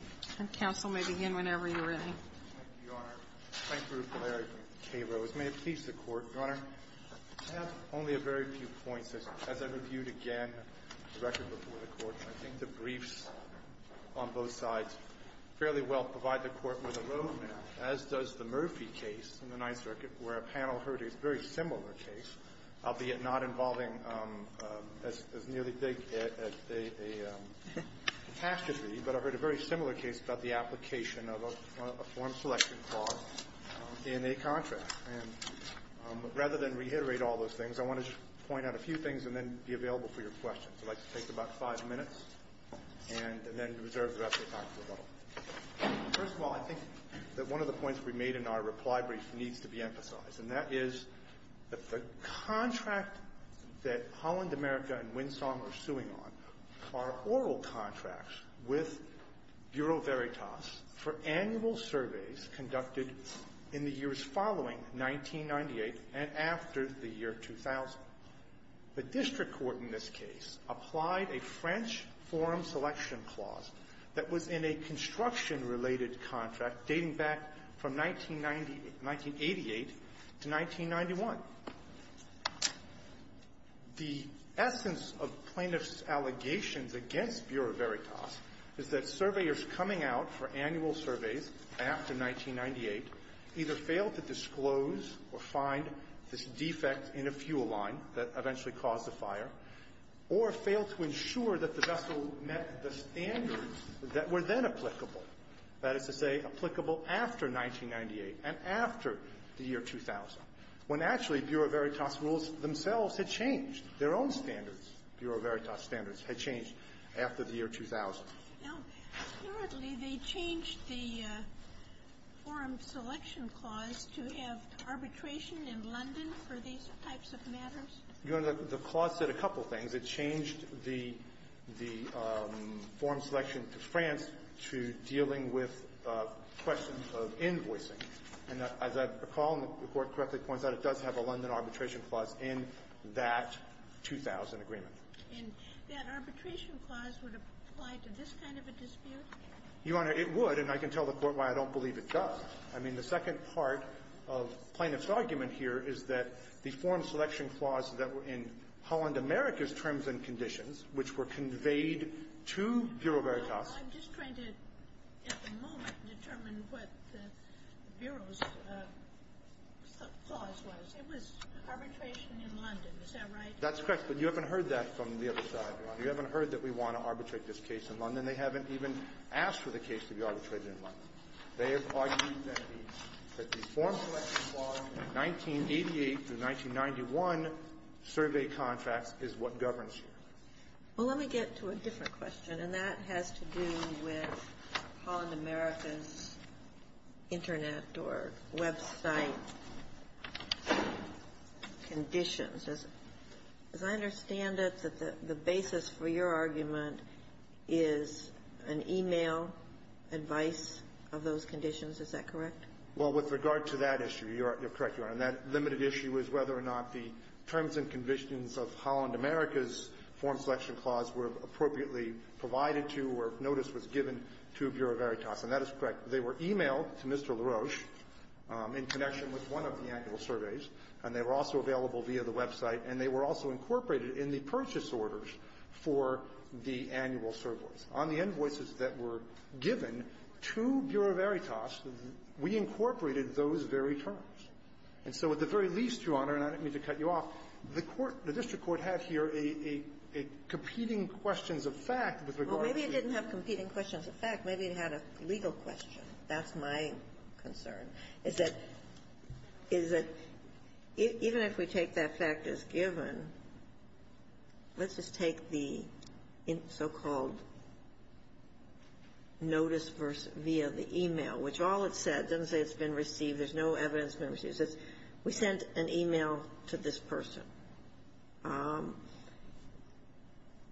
Thank you, Your Honor. Thank you, Rupert K. Rose. May it please the Court, Your Honor, I have only a very few points, as I've reviewed again the record before the Court. I think the briefs on both sides fairly well provide the Court with a roadmap, as does the Murphy case in the Ninth Circuit, where a panel heard a very similar case, albeit not involving as nearly as big a catastrophe, but I've heard a very similar case about the application of a form selection clause in a contract. And rather than reiterate all those things, I want to just point out a few things and then be available for your questions. I'd like to take about five minutes and then reserve the rest of your time for rebuttal. First of all, I think that one of the points we made in our reply brief needs to be emphasized, and that is that the contract that Holland America and Winsong are suing on are oral contracts with Bureau Veritas for annual surveys conducted in the years following 1998 and after the year 2000. The district court in this case applied a French form selection clause that was in a construction-related contract dating back from 1980 to 1991. The essence of plaintiffs' allegations against Bureau Veritas is that surveyors coming out for annual surveys after 1998 either failed to disclose or find this defect in a fuel line that eventually caused the fire, or failed to ensure that the vessel met the standards that were then applicable, that is to say, applicable after 1998 and after the year 2000, when actually Bureau Veritas rules themselves had changed. Their own standards, Bureau Veritas standards, had changed after the year 2000. Now, apparently they changed the form selection clause to have arbitration in London for these types of matters? Your Honor, the clause said a couple things. It changed the form selection to France to dealing with questions of invoicing. And as I recall, and the Court correctly points out, it does have a London arbitration clause in that 2000 agreement. And that arbitration clause would apply to this kind of a dispute? Your Honor, it would, and I can tell the Court why I don't believe it does. I mean, the second part of the plaintiff's argument here is that the form selection clause that were in Holland America's terms and conditions, which were conveyed to Bureau Veritas Well, I'm just trying to, at the moment, determine what the Bureau's clause was. It was arbitration in London. Is that right? That's correct. But you haven't heard that from the other side, Your Honor. You haven't heard that we want to arbitrate this case in London. They haven't even asked for the case to be arbitrated in London. They have argued that the form selection clause in 1988 through 1991 survey contracts is what governs here. Well, let me get to a different question, and that has to do with Holland America's terms and conditions or website conditions. As I understand it, the basis for your argument is an e-mail advice of those conditions. Is that correct? Well, with regard to that issue, you're correct, Your Honor. And that limited issue is whether or not the terms and conditions of Holland America's form selection clause were appropriately provided to or notice was given to Bureau Veritas. And that is correct. They were e-mailed to Mr. LaRoche in connection with one of the annual surveys, and they were also available via the website, and they were also incorporated in the purchase orders for the annual surveys. On the invoices that were given to Bureau Veritas, we incorporated those very terms. And so at the very least, Your Honor, and I don't mean to cut you off, the court, the district court had here a competing questions of fact with regard to the ---- That's my concern, is that, is that even if we take that fact as given, let's just take the so-called notice via the e-mail, which all it said, doesn't say it's been received, there's no evidence it's been received. It says we sent an e-mail to this person.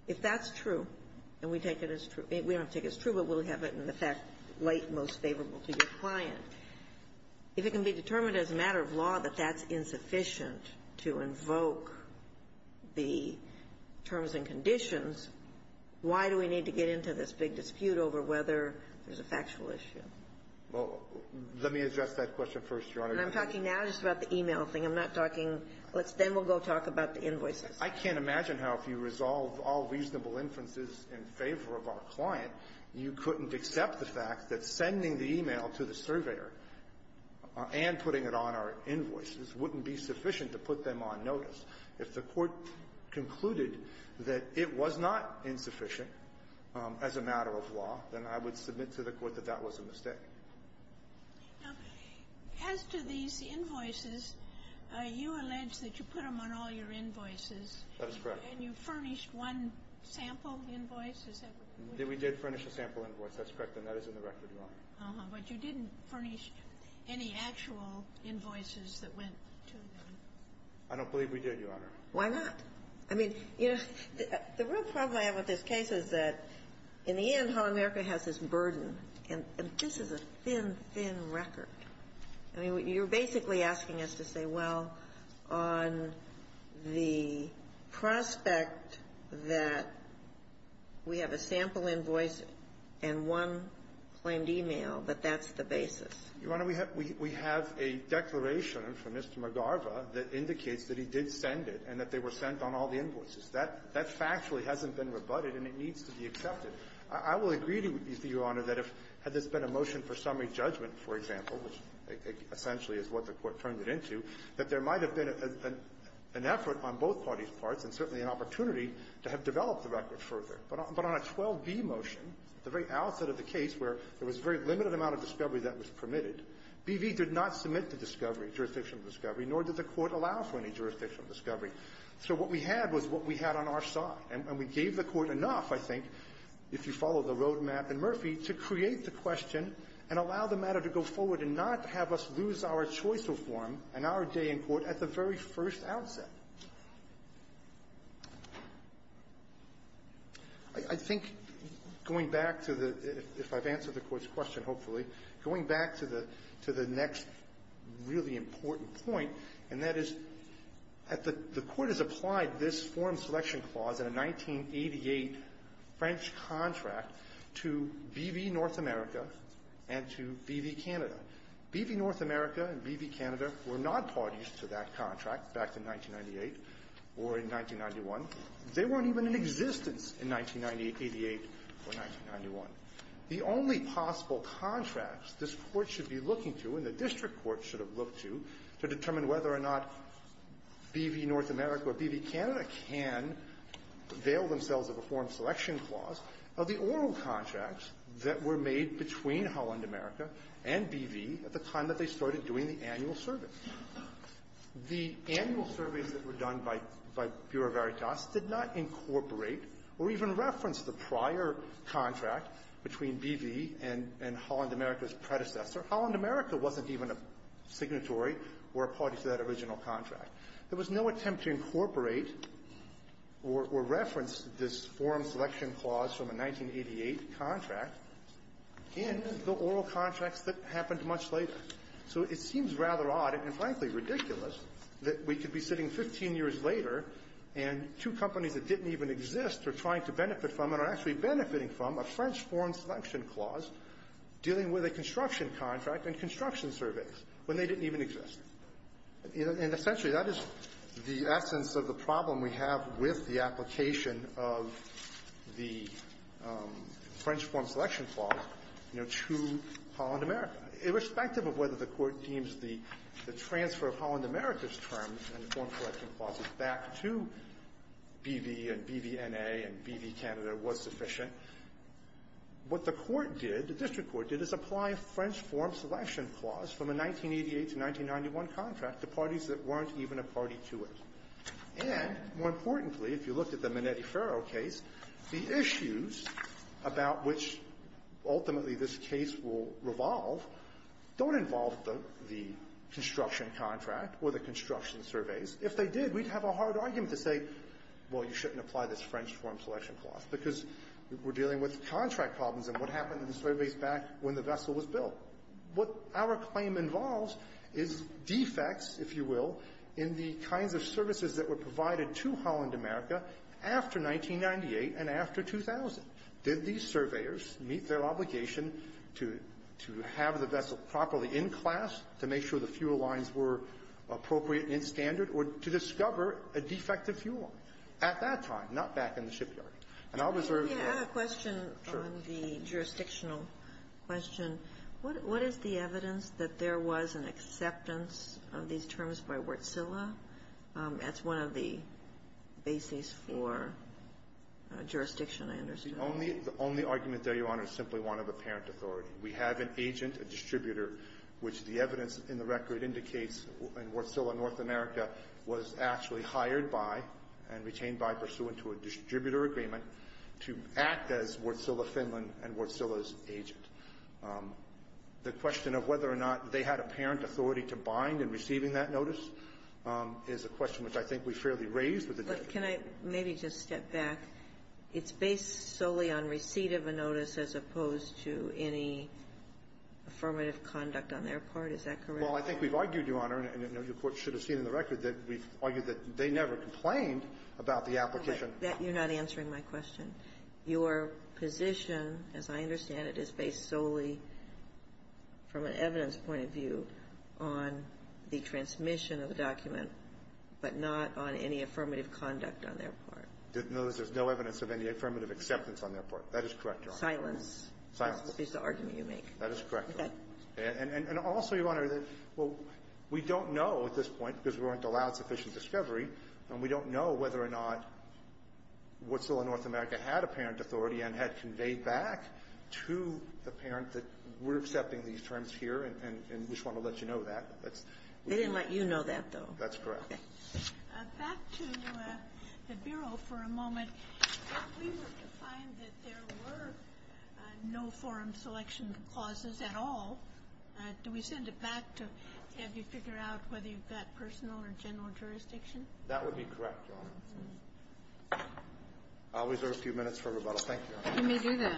If that's true, and we take it as true but we'll have it in the fact late most favorable to your client, if it can be determined as a matter of law that that's insufficient to invoke the terms and conditions, why do we need to get into this big dispute over whether there's a factual issue? Well, let me address that question first, Your Honor. And I'm talking now just about the e-mail thing. I'm not talking ---- then we'll go talk about the invoices. I can't imagine how if you resolve all reasonable inferences in favor of our client, you couldn't accept the fact that sending the e-mail to the surveyor and putting it on our invoices wouldn't be sufficient to put them on notice. If the Court concluded that it was not insufficient as a matter of law, then I would agree. Now, as to these invoices, you allege that you put them on all your invoices. That is correct. And you furnished one sample invoice. We did furnish a sample invoice. That's correct. And that is in the record, Your Honor. But you didn't furnish any actual invoices that went to them. I don't believe we did, Your Honor. Why not? I mean, you know, the real problem I have with this case is that in the end, how America has this burden, and this is a thin, thin record, I mean, you're basically asking us to say, well, on the prospect that we have a sample invoice and one claimed e-mail, that that's the basis. Your Honor, we have a declaration from Mr. McGarva that indicates that he did send it and that they were sent on all the invoices. That factually hasn't been rebutted, and it needs to be accepted. I will agree with you, Your Honor, that if, had this been a motion for summary judgment, for example, which essentially is what the Court turned it into, that there might have been an effort on both parties' parts and certainly an opportunity to have developed the record further. But on a 12b motion, the very outset of the case where there was a very limited amount of discovery that was permitted, BV did not submit to discovery, jurisdictional discovery, nor did the Court allow for any jurisdictional discovery. So what we had was what we had on our side. And we gave the Court enough, I think, if you follow the roadmap in Murphy, to create the question and allow the matter to go forward and not have us lose our choice of form and our day in court at the very first outset. I think going back to the – if I've answered the Court's question, hopefully – going back to the next really important point, and that is that the Court has applied this form selection clause in a 1988 French contract to BV North America and to BV Canada. BV North America and BV Canada were not parties to that contract back in 1998 or in 1991. They weren't even in existence in 1998, 88, or 1991. The only possible contracts this Court should be looking to and the district court should have looked to, to determine whether or not BV North America or BV Canada can avail themselves of a form selection clause, are the oral contracts that were made between Holland America and BV at the time that they started doing the annual surveys. The annual surveys that were done by Bureau Veritas did not incorporate or even reference the prior contract between BV and – and Holland America's predecessor. Holland America wasn't even a signatory or a party to that original contract. There was no attempt to incorporate or – or reference this form selection clause from a 1988 contract in the oral contracts that happened much later. So it seems rather odd and, frankly, ridiculous that we could be sitting 15 years later and two companies that didn't even exist are trying to benefit from and are actually benefiting from a French form selection clause dealing with a construction contract and construction surveys when they didn't even exist. And essentially, that is the essence of the problem we have with the application of the French form selection clause, you know, to Holland America, irrespective of whether the Court deems the transfer of Holland America's terms and form selection clauses back to BV and BV N.A. and BV Canada was sufficient. What the Court did, the district court did, is apply a French form selection clause from a 1988 to 1991 contract to parties that weren't even a party to it. And, more importantly, if you look at the Minetti-Ferro case, the issues about which ultimately this case will revolve don't involve the – the construction contract or the construction surveys. If they did, we'd have a hard argument to say, well, you shouldn't apply this French form selection clause because we're dealing with contract problems and what happened in the surveys back when the vessel was built. What our claim involves is defects, if you will, in the kinds of services that were provided to Holland America after 1998 and after 2000. Did these surveyors meet their obligation to – to have the vessel properly in class, to make sure the fuel lines were appropriate and standard, or to discover a defective fuel line at that time, not back in the shipyard. And I'll reserve your question on the jurisdictional question. What is the evidence that there was an acceptance of these terms by Wärtsilä? That's one of the bases for jurisdiction, I understand. The only – the only argument there, Your Honor, is simply one of apparent authority. We have an agent, a distributor, which the evidence in the record indicates in Wärtsilä North America was actually hired by and retained by pursuant to a distributor agreement to act as Wärtsilä Finland and Wärtsilä's agent. The question of whether or not they had apparent authority to bind in receiving that notice is a question which I think we fairly raised with the district. But can I maybe just step back? It's based solely on receipt of a notice as opposed to any affirmative conduct on their part. Is that correct? Well, I think we've argued, Your Honor, and your Court should have seen in the record that we've argued that they never complained about the application. You're not answering my question. Your position, as I understand it, is based solely from an evidence point of view on the transmission of the document, but not on any affirmative conduct on their part. Notice there's no evidence of any affirmative acceptance on their part. That is correct, Your Honor. Silence. Silence. That's the argument you make. That is correct. Okay. And also, Your Honor, we don't know at this point, because we weren't allowed sufficient discovery, and we don't know whether or not Wärtsilä North America had apparent authority and had conveyed back to the parent that we're accepting these terms here, and we just want to let you know that. They didn't let you know that, though. That's correct. Okay. Back to the Bureau for a moment. We were to find that there were no forum selection clauses at all. Do we send it back to have you figure out whether you've got personal or general jurisdiction? That would be correct, Your Honor. I'll reserve a few minutes for rebuttal. Thank you, Your Honor. You may do that.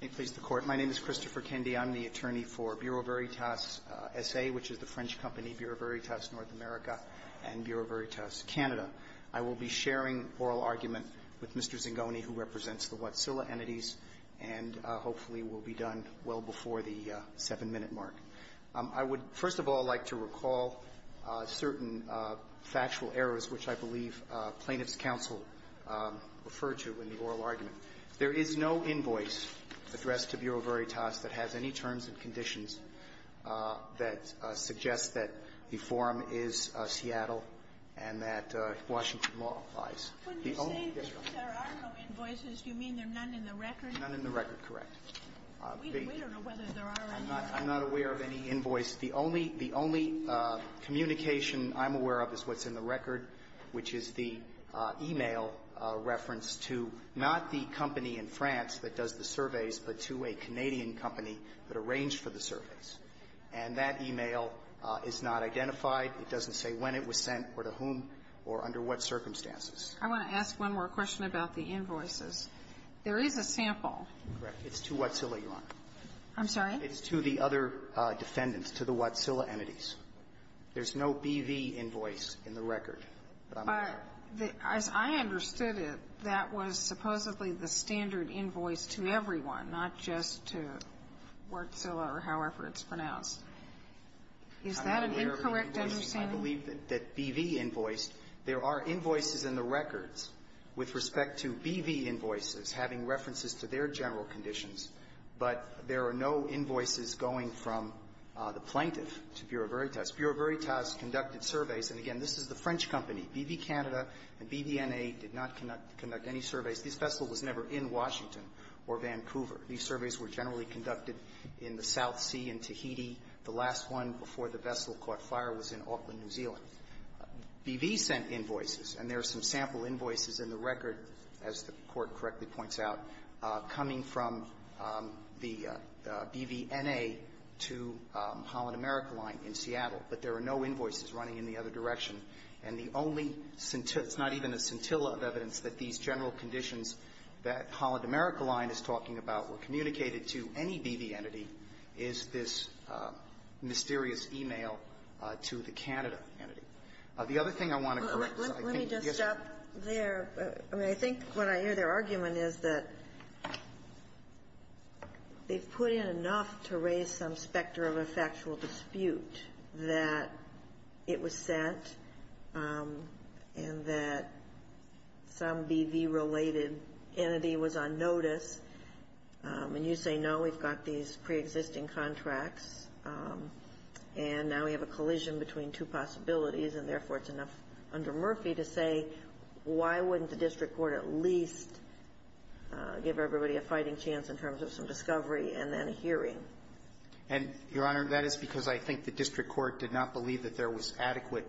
May it please the Court. My name is Christopher Kendi. I'm the attorney for Bureau Veritas S.A., which is the French company Bureau Veritas North America and Bureau Veritas Canada. I will be sharing oral argument with Mr. Zingoni, who represents the Wärtsilä entities, and hopefully will be done well before the 7-minute mark. I would, first of all, like to recall certain factual errors which I believe plaintiff's counsel referred to in the oral argument. There is no invoice addressed to Bureau Veritas that has any terms and conditions that suggest that the forum is Seattle and that Washington law applies. When you say that there are no invoices, you mean there are none in the record? None in the record, correct. We don't know whether there are any. I'm not aware of any invoice. The only communication I'm aware of is what's in the record, which is the e-mail reference to not the company in France that does the surveys, but to a Canadian company that arranged for the surveys. And that e-mail is not identified. It doesn't say when it was sent or to whom or under what circumstances. I want to ask one more question about the invoices. There is a sample. It's to Wärtsilä, Your Honor. I'm sorry? It's to the other defendants, to the Wärtsilä entities. There's no BV invoice in the record. As I understood it, that was supposedly the standard invoice to everyone, not just to Wärtsilä or however it's pronounced. Is that an incorrect understanding? I'm not aware of any invoices. I believe that BV invoiced. There are invoices in the records with respect to BV invoices having references to their general conditions, but there are no invoices going from the plaintiff to Bureau Veritas. Bureau Veritas conducted surveys, and again, this is the French company. BV Canada and BVNA did not conduct any surveys. This vessel was never in Washington or Vancouver. These surveys were generally conducted in the South Sea, in Tahiti. The last one before the vessel caught fire was in Auckland, New Zealand. BV sent invoices, and there are some sample invoices in the record, as the Court correctly points out, coming from the BVNA to Holland America Line in Seattle. But there are no invoices running in the other direction. And the only centi --" it's not even a centilla of evidence that these general conditions that Holland America Line is talking about were communicated to any BV entity, is this mysterious e-mail to the Canada entity. The other thing I want to correct is I think yes, Your Honor. Let me just stop there. I mean, I think what I hear their argument is that they've put in enough to raise some specter of a factual dispute that it was sent and that some BV-related entity was on notice. And you say, no, we've got these preexisting contracts, and now we have a collision between two possibilities, and therefore it's enough under Murphy to say, why wouldn't the district court at least give everybody a fighting chance in terms of some discovery and then a hearing? And, Your Honor, that is because I think the district court did not believe that there was adequate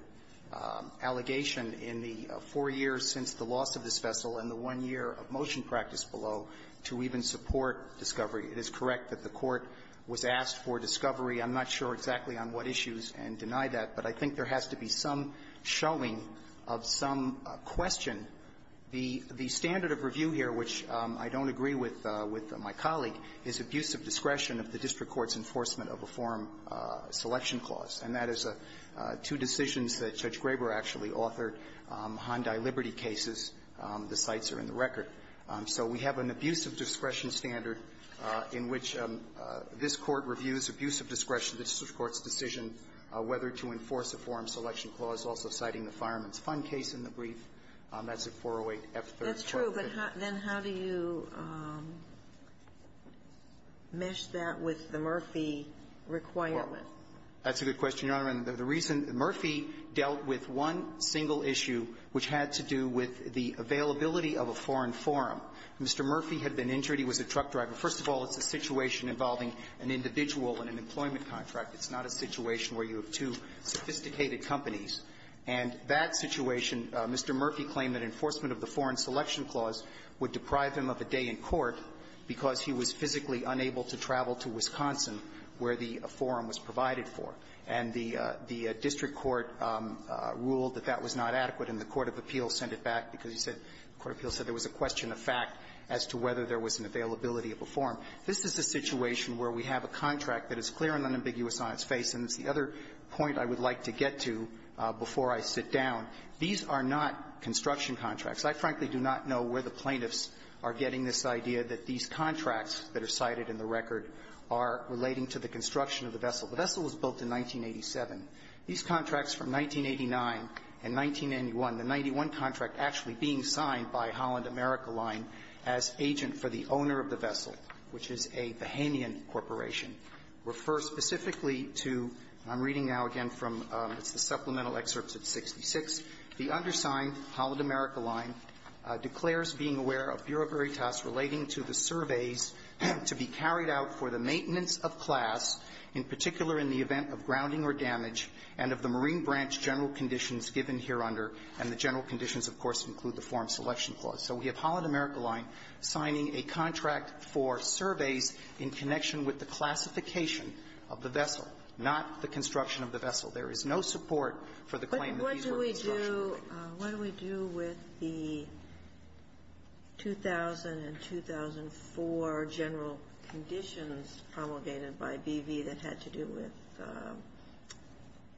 allegation in the four years since the loss of this vessel and the one year of motion practice below to even support discovery. It is correct that the Court was asked for discovery. I'm not sure exactly on what issues and deny that, but I think there has to be some showing of some question. The standard of review here, which I don't agree with my colleague, is abuse of discretion of the district court's enforcement of a forum selection clause, and that is two decisions that Judge Graber actually authored, Hyundai Liberty cases. The sites are in the record. So we have an abuse of discretion standard in which this Court reviews abuse of discretion of the district court's decision whether to enforce a forum selection clause, also citing the Fireman's Fund case in the brief. That's at 408F3. That's true, but then how do you mesh that with the Murphy requirement? That's a good question, Your Honor. And the reason Murphy dealt with one single issue, which had to do with the availability of a foreign forum, Mr. Murphy had been injured. He was a truck driver. First of all, it's a situation involving an individual in an employment contract. It's not a situation where you have two sophisticated companies. And that situation, Mr. Murphy claimed that enforcement of the foreign selection clause would deprive him of a day in court because he was physically unable to travel to Wisconsin where the forum was provided for. And the district court ruled that that was not adequate, and the court of appeals sent it back because he said the court of appeals said there was a question of fact as to whether there was an availability of a forum. This is a situation where we have a contract that is clear and unambiguous on its face, and it's the other point I would like to get to before I sit down. These are not construction contracts. I frankly do not know where the plaintiffs are getting this idea that these contracts that are cited in the record are relating to the construction of the vessel. The vessel was built in 1987. These contracts from 1989 and 1991, the 91 contract actually being signed by Holland America Line as agent for the owner of the vessel, which is a Bahamian corporation, refer specifically to, I'm reading now again from the supplemental excerpts of 66. The undersigned Holland America Line declares being aware of bureaucratic related to the surveys to be carried out for the maintenance of class, in particular in the event of grounding or damage, and of the Marine Branch general conditions given hereunder, and the general conditions, of course, include the Forum Selection Clause. So we have Holland America Line signing a contract for surveys in connection with the classification of the vessel, not the construction of the vessel. There is no support for the claim that these were constructional. Ginsburg. What do we do with the 2000 and 2004 general conditions promulgated by BV that had to do with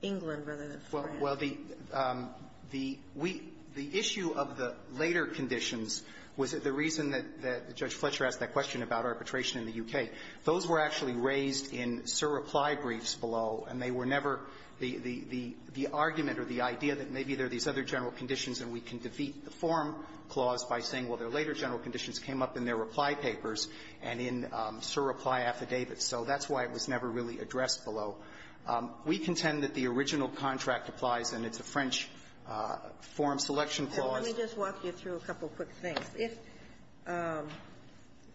England rather than France? Well, the issue of the later conditions was the reason that Judge Fletcher asked that question about arbitration in the U.K. Those were actually raised in sur reply briefs below, and they were never the argument or the idea that maybe there are these other general conditions and we can defeat the Forum Clause by saying, well, their later general conditions came up in their reply papers and in sur reply affidavits. So that's why it was never really addressed below. We contend that the original contract applies, and it's a French Forum Selection Clause. Let me just walk you through a couple of quick things. If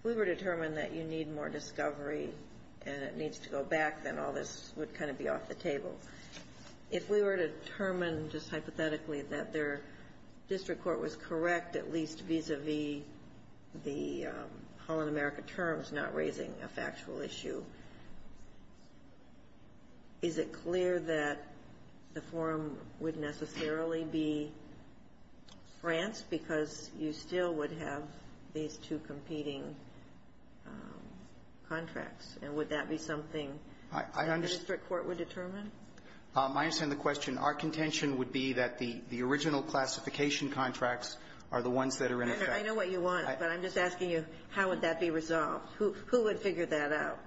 we were determined that you need more discovery and it needs to go back, then all this would kind of be off the table. If we were determined just hypothetically that their district court was correct, at least vis-a-vis the Holland America terms, not raising a factual issue, is it clear that the forum would necessarily be France because you still would have these two competing contracts? And would that be something that the district court would determine? I understand the question. Our contention would be that the original classification contracts are the ones that are in effect. I know what you want, but I'm just asking you, how would that be resolved? Who would figure that out?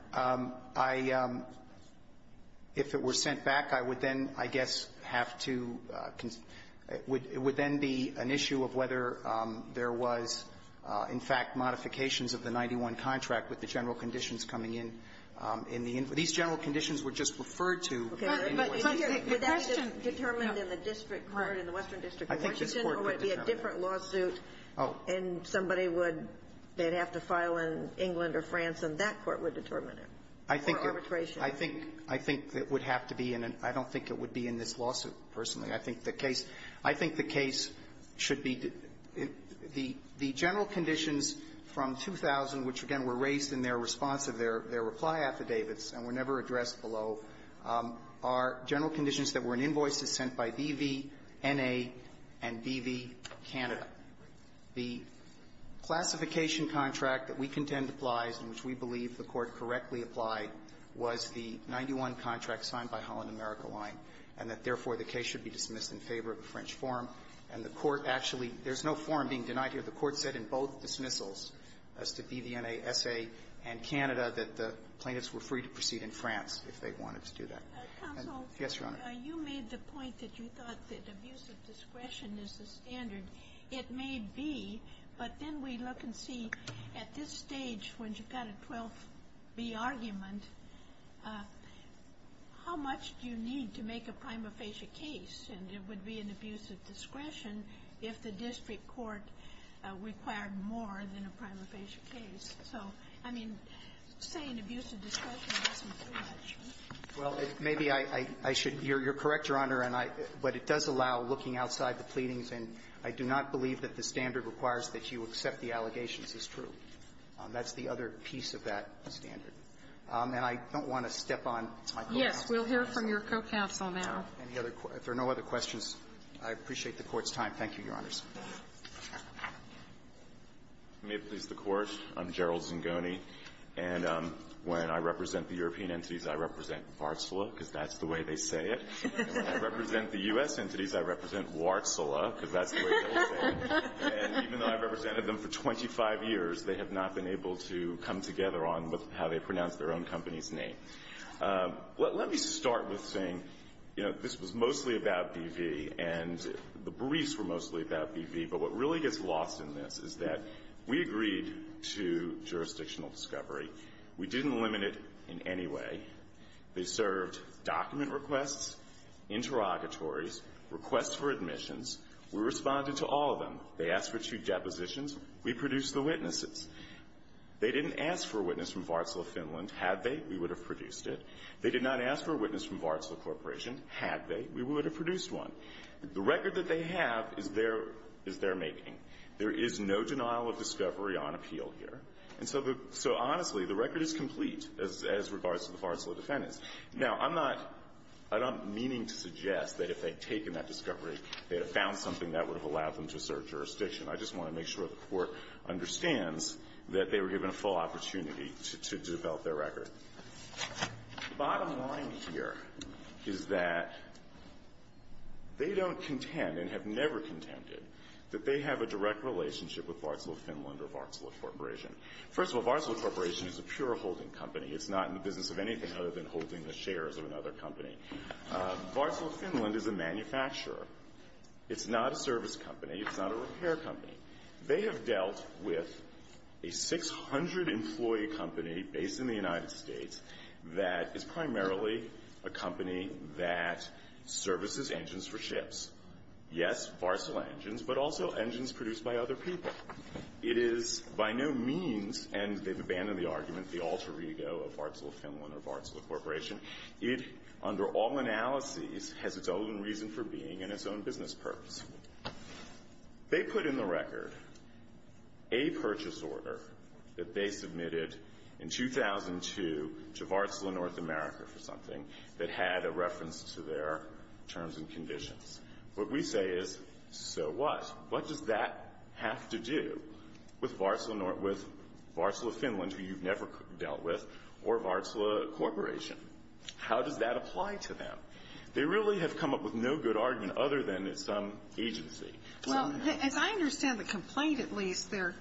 If it were sent back, I would then, I guess, have to concern. It would then be an issue of whether there was, in fact, modifications of the 91 contract with the general conditions coming in. In the end, these general conditions were just referred to. But the question is no. Would that be determined in the district court in the Western District of Washington or would it be a different lawsuit and somebody would they'd have to file in England or France and that court would determine it for arbitration? I think it would have to be in an and I don't think it would be in this lawsuit, personally. I think the case should be the general conditions from 2000, which again were raised in their response of their reply affidavits and were never addressed below, are general conditions that were in invoices sent by BV, NA, and BV, Canada. But the classification contract that we contend applies and which we believe the Court correctly applied was the 91 contract signed by Holland America Line and that, therefore, the case should be dismissed in favor of the French form. And the Court actually, there's no form being denied here. The Court said in both dismissals as to BV, NA, SA and Canada that the plaintiffs were free to proceed in France if they wanted to do that. Counsel. Yes, Your Honor. You made the point that you thought that abuse of discretion is the standard. It may be, but then we look and see at this stage when you've got a 12B argument, how much do you need to make a prima facie case and it would be an abuse of discretion if the district court required more than a prima facie case. So, I mean, say an abuse of discretion isn't too much. Well, maybe I should, you're correct, Your Honor, and I, but it does allow looking outside the pleadings and I do not believe that the standard requires that you accept the allegations is true. That's the other piece of that standard. And I don't want to step on my co-counsel. Yes. We'll hear from your co-counsel now. Any other questions? If there are no other questions, I appreciate the Court's time. Thank you, Your Honors. May it please the Court. I'm Gerald Zingoni. And when I represent the European entities, I represent Varsala because that's the way they say it. And when I represent the U.S. entities, I represent Warsala because that's the way they say it. And even though I represented them for 25 years, they have not been able to come together on how they pronounce their own company's name. Let me start with saying, you know, this was mostly about BV and the briefs were mostly about BV, but what really gets lost in this is that we agreed to jurisdictional discovery. We didn't limit it in any way. They served document requests, interrogatories, requests for admissions. We responded to all of them. They asked for two depositions. We produced the witnesses. They didn't ask for a witness from Varsala, Finland. Had they, we would have produced it. They did not ask for a witness from Varsala Corporation. Had they, we would have produced one. The record that they have is their making. There is no denial of discovery on appeal here. And so the, so honestly, the record is complete as regards to the Varsala defendants. Now, I'm not, I'm not meaning to suggest that if they had taken that discovery, they would have found something that would have allowed them to serve jurisdiction. I just want to make sure the Court understands that they were given a full opportunity to develop their record. Bottom line here is that they don't contend and have never contended that they have a direct relationship with Varsala, Finland or Varsala Corporation. First of all, Varsala Corporation is a pure holding company. It's not in the business of anything other than holding the shares of another company. Varsala, Finland is a manufacturer. It's not a service company. It's not a repair company. They have dealt with a 600-employee company based in the United States that is primarily a company that services engines for ships. Yes, Varsala engines, but also engines produced by other people. It is by no means, and they've abandoned the argument, the alter ego of Varsala, Finland or Varsala Corporation. It, under all analyses, has its own reason for being and its own business purpose. They put in the record a purchase order that they submitted in 2002 to Varsala, North America for something that had a reference to their terms and conditions. What we say is, so what? What does that have to do with Varsala, Finland, who you've never dealt with, or Varsala Corporation? How does that apply to them? They really have come up with no good argument other than it's some agency. Well, as I understand the complaint at least, their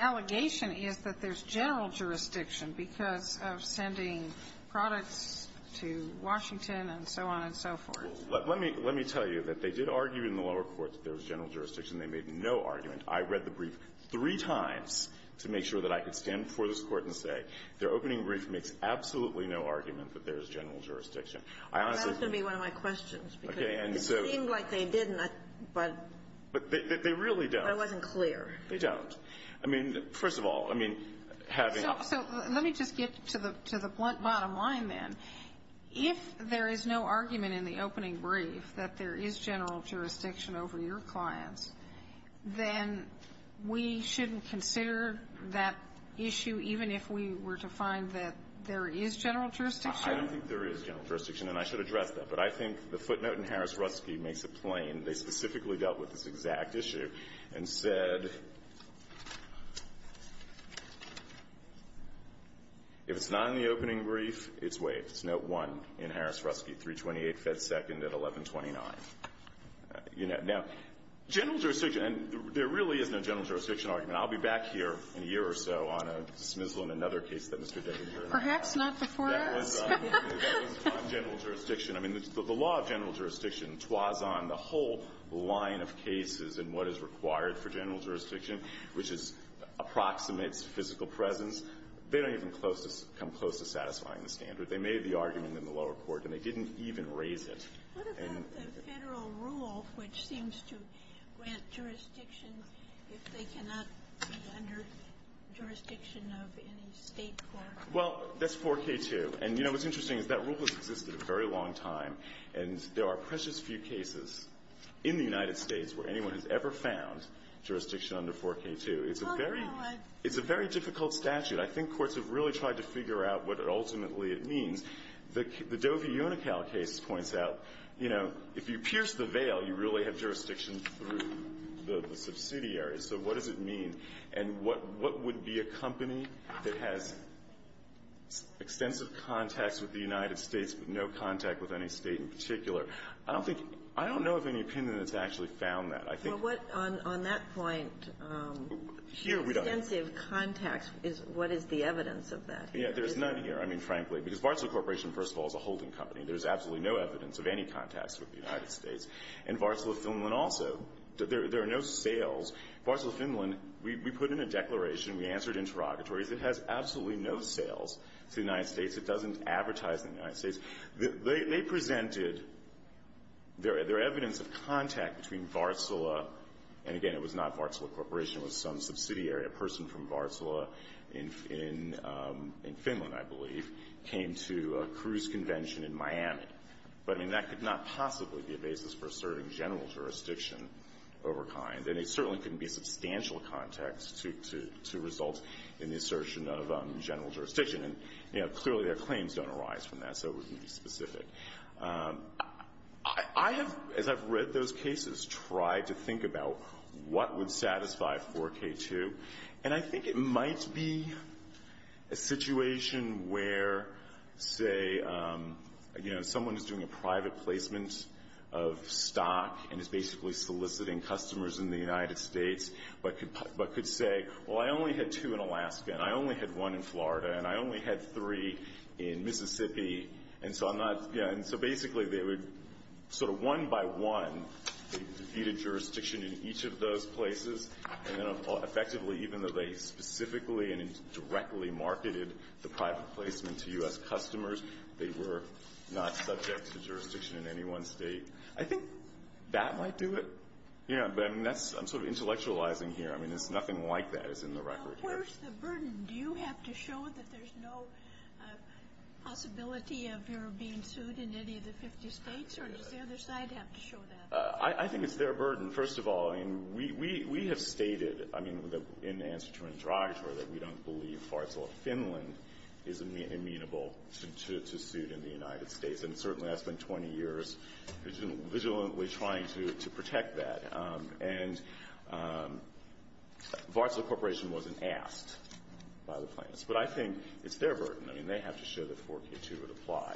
allegation is that there's general jurisdiction because of sending products to Washington and so on and so forth. Let me tell you that they did argue in the lower court that there's general jurisdiction. They made no argument. I read the brief three times to make sure that I could stand before this Court and say their opening brief makes absolutely no argument that there's general jurisdiction. That was going to be one of my questions because it seemed like they didn't, but I wasn't clear. They really don't. They don't. I mean, first of all, I mean, having a So let me just get to the blunt bottom line then. If there is no argument in the opening brief that there is general jurisdiction over your clients, then we shouldn't consider that issue even if we were to find that there is general jurisdiction? I don't think there is general jurisdiction, and I should address that. But I think the footnote in Harris-Rutsky makes it plain. They specifically dealt with this exact issue and said if it's not in the opening brief, it's waived. It's note one in Harris-Rutsky, 328 Fed Second at 1129. Now, general jurisdiction. And there really is no general jurisdiction argument. I'll be back here in a year or so on a dismissal in another case that Mr. Deggans heard about. Perhaps not before us. That was on general jurisdiction. I mean, the law of general jurisdiction twas on the whole line of cases and what is required for general jurisdiction, which is approximates physical presence. They don't even come close to satisfying the standard. They made the argument in the lower court, and they didn't even raise it. And the Federal rule, which seems to grant jurisdiction if they cannot be under jurisdiction of any State court. Well, that's 4K2. And, you know, what's interesting is that rule has existed a very long time, and there are precious few cases in the United States where anyone has ever found jurisdiction under 4K2. It's a very difficult statute. I think courts have really tried to figure out what ultimately it means. The Dovey-Unicall case points out, you know, if you pierce the veil, you really have jurisdiction through the subsidiary. So what does it mean? And what would be a company that has extensive contacts with the United States but no contact with any State in particular? I don't think — I don't know of any opinion that's actually found that. I think — Here we don't — Extensive contacts. What is the evidence of that? Yeah. There's none here, I mean, frankly. Because Varsala Corporation, first of all, is a holding company. There's absolutely no evidence of any contacts with the United States. And Varsala Finland also. There are no sales. Varsala Finland, we put in a declaration. We answered interrogatories. It has absolutely no sales to the United States. It doesn't advertise in the United States. They presented their evidence of contact between Varsala — and, again, it was not Varsala Corporation. It was some subsidiary, a person from Varsala in Finland, I believe, came to a cruise convention in Miami. But, I mean, that could not possibly be a basis for asserting general jurisdiction over kind. And it certainly couldn't be substantial contacts to result in the assertion of general jurisdiction. And, you know, clearly their claims don't arise from that, so it wouldn't be specific. I have, as I've read those cases, tried to think about what would satisfy 4K2. And I think it might be a situation where, say, you know, someone is doing a private placement of stock and is basically soliciting customers in the United States but could say, well, I only had two in Alaska and I only had one in Florida and I only had three in Mississippi. And so I'm not — you know, and so basically they would sort of one by one feed a jurisdiction in each of those places. And then, effectively, even though they specifically and directly marketed the private placement to U.S. customers, they were not subject to jurisdiction in any one state. I think that might do it. You know, but, I mean, that's — I'm sort of intellectualizing here. I mean, it's nothing like that is in the record here. Where's the burden? Do you have to show that there's no possibility of your being sued in any of the 50 states, or does the other side have to show that? I think it's their burden, first of all. I mean, we have stated, I mean, in answer to Andrei, that we don't believe Varsola Finland is amenable to suit in the United States. And certainly I spent 20 years vigilantly trying to protect that. And Varsola Corporation wasn't asked by the plaintiffs. But I think it's their burden. I mean, they have to show that 4K2 would apply.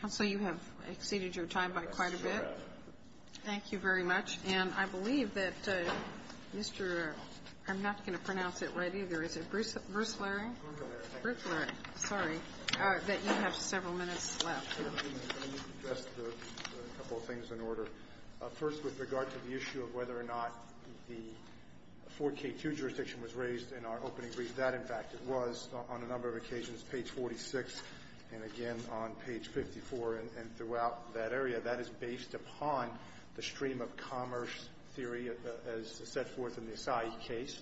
Counsel, you have exceeded your time by quite a bit. Thank you very much. And I believe that Mr. — I'm not going to pronounce it right either. Is it Bruce Flaherty? Bruce Flaherty. Sorry. That you have several minutes left. Let me address a couple of things in order. First, with regard to the issue of whether or not the 4K2 jurisdiction was raised in our opening brief. That, in fact, it was on a number of occasions, page 46 and again on page 54 and throughout that area. That is based upon the stream of commerce theory as set forth in the Acai case.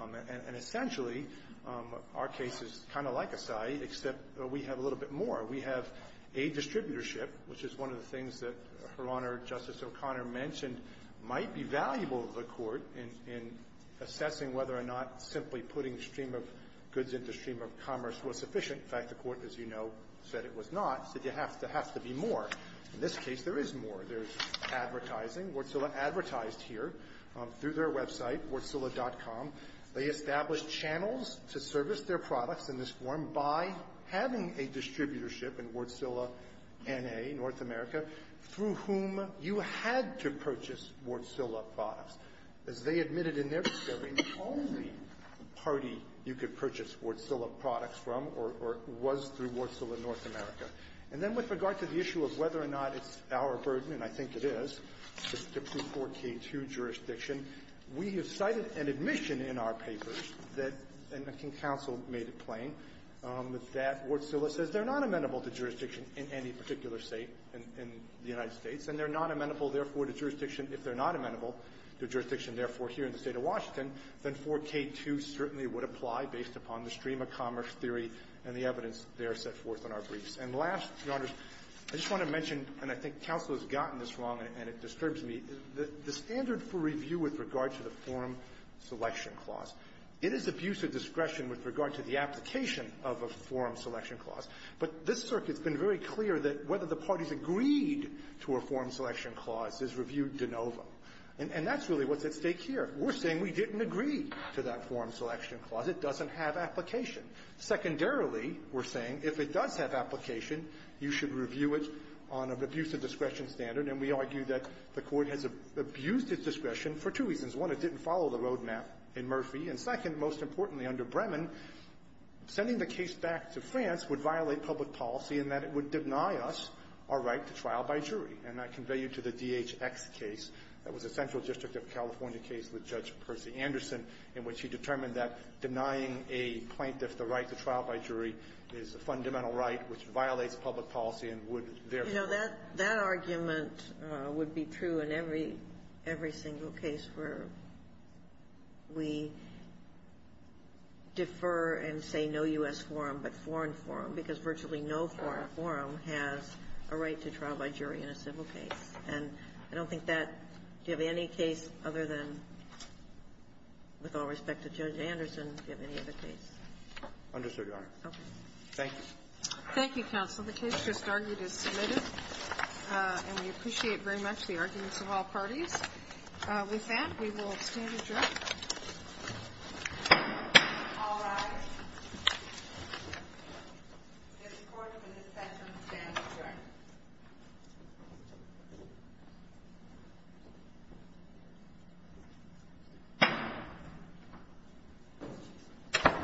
And essentially, our case is kind of like Acai, except we have a little bit more. We have a distributorship, which is one of the things that Her Honor, Justice O'Connor mentioned might be valuable to the Court in assessing whether or not simply putting a stream of goods into a stream of commerce was sufficient. In fact, the Court, as you know, said it was not, said there has to be more. In this case, there is more. There's advertising. Wärtsilä advertised here through their website, wärtsilä.com. They established channels to service their products in this form by having a distributorship in Wärtsilä NA, North America, through whom you had to purchase Wärtsilä products. As they admitted in their discovery, the only party you could purchase Wärtsilä products from or was through Wärtsilä North America. And then with regard to the issue of whether or not it's our burden, and I think it is, to prove 4K2 jurisdiction, we have cited an admission in our papers that, and I think counsel made it plain, that Wärtsilä says they're not amenable to jurisdiction in any particular State in the United States. And they're not amenable, therefore, to jurisdiction. If they're not amenable to jurisdiction, therefore, here in the State of Washington, then 4K2 certainly would apply based upon the stream of commerce theory and the evidence there set forth in our briefs. And last, Your Honors, I just want to mention, and I think counsel has gotten this wrong and it disturbs me, the standard for review with regard to the form selection clause, it is abuse of discretion with regard to the application of a form selection clause, but this Circuit's been very clear that whether the parties agreed to a form selection clause is reviewed de novo. And that's really what's at stake here. We're saying we didn't agree to that form selection clause. It doesn't have application. Secondarily, we're saying if it does have application, you should review it on an abuse of discretion standard, and we argue that the Court has abused its discretion for two reasons. One, it didn't follow the roadmap in Murphy. And second, most importantly, under Bremen, sending the case back to France would violate public policy in that it would deny us our right to trial by jury. And I convey you to the DHX case. That was a Central District of California case with Judge Percy Anderson in which she determined that denying a plaintiff the right to trial by jury is a fundamental right which violates public policy and would therefore be violated. You know, that argument would be true in every single case where we defer and say no U.S. forum, but foreign forum, because virtually no foreign forum has a right to trial by jury in a civil case. And I don't think that you have any case other than, with all respect to Judge Anderson, give any other case. Understood, Your Honor. Okay. Thank you. Thank you, counsel. The case just argued is submitted, and we appreciate very much the arguments of all parties. With that, we will stand adjourned. All rise. The court is in session to stand adjourned.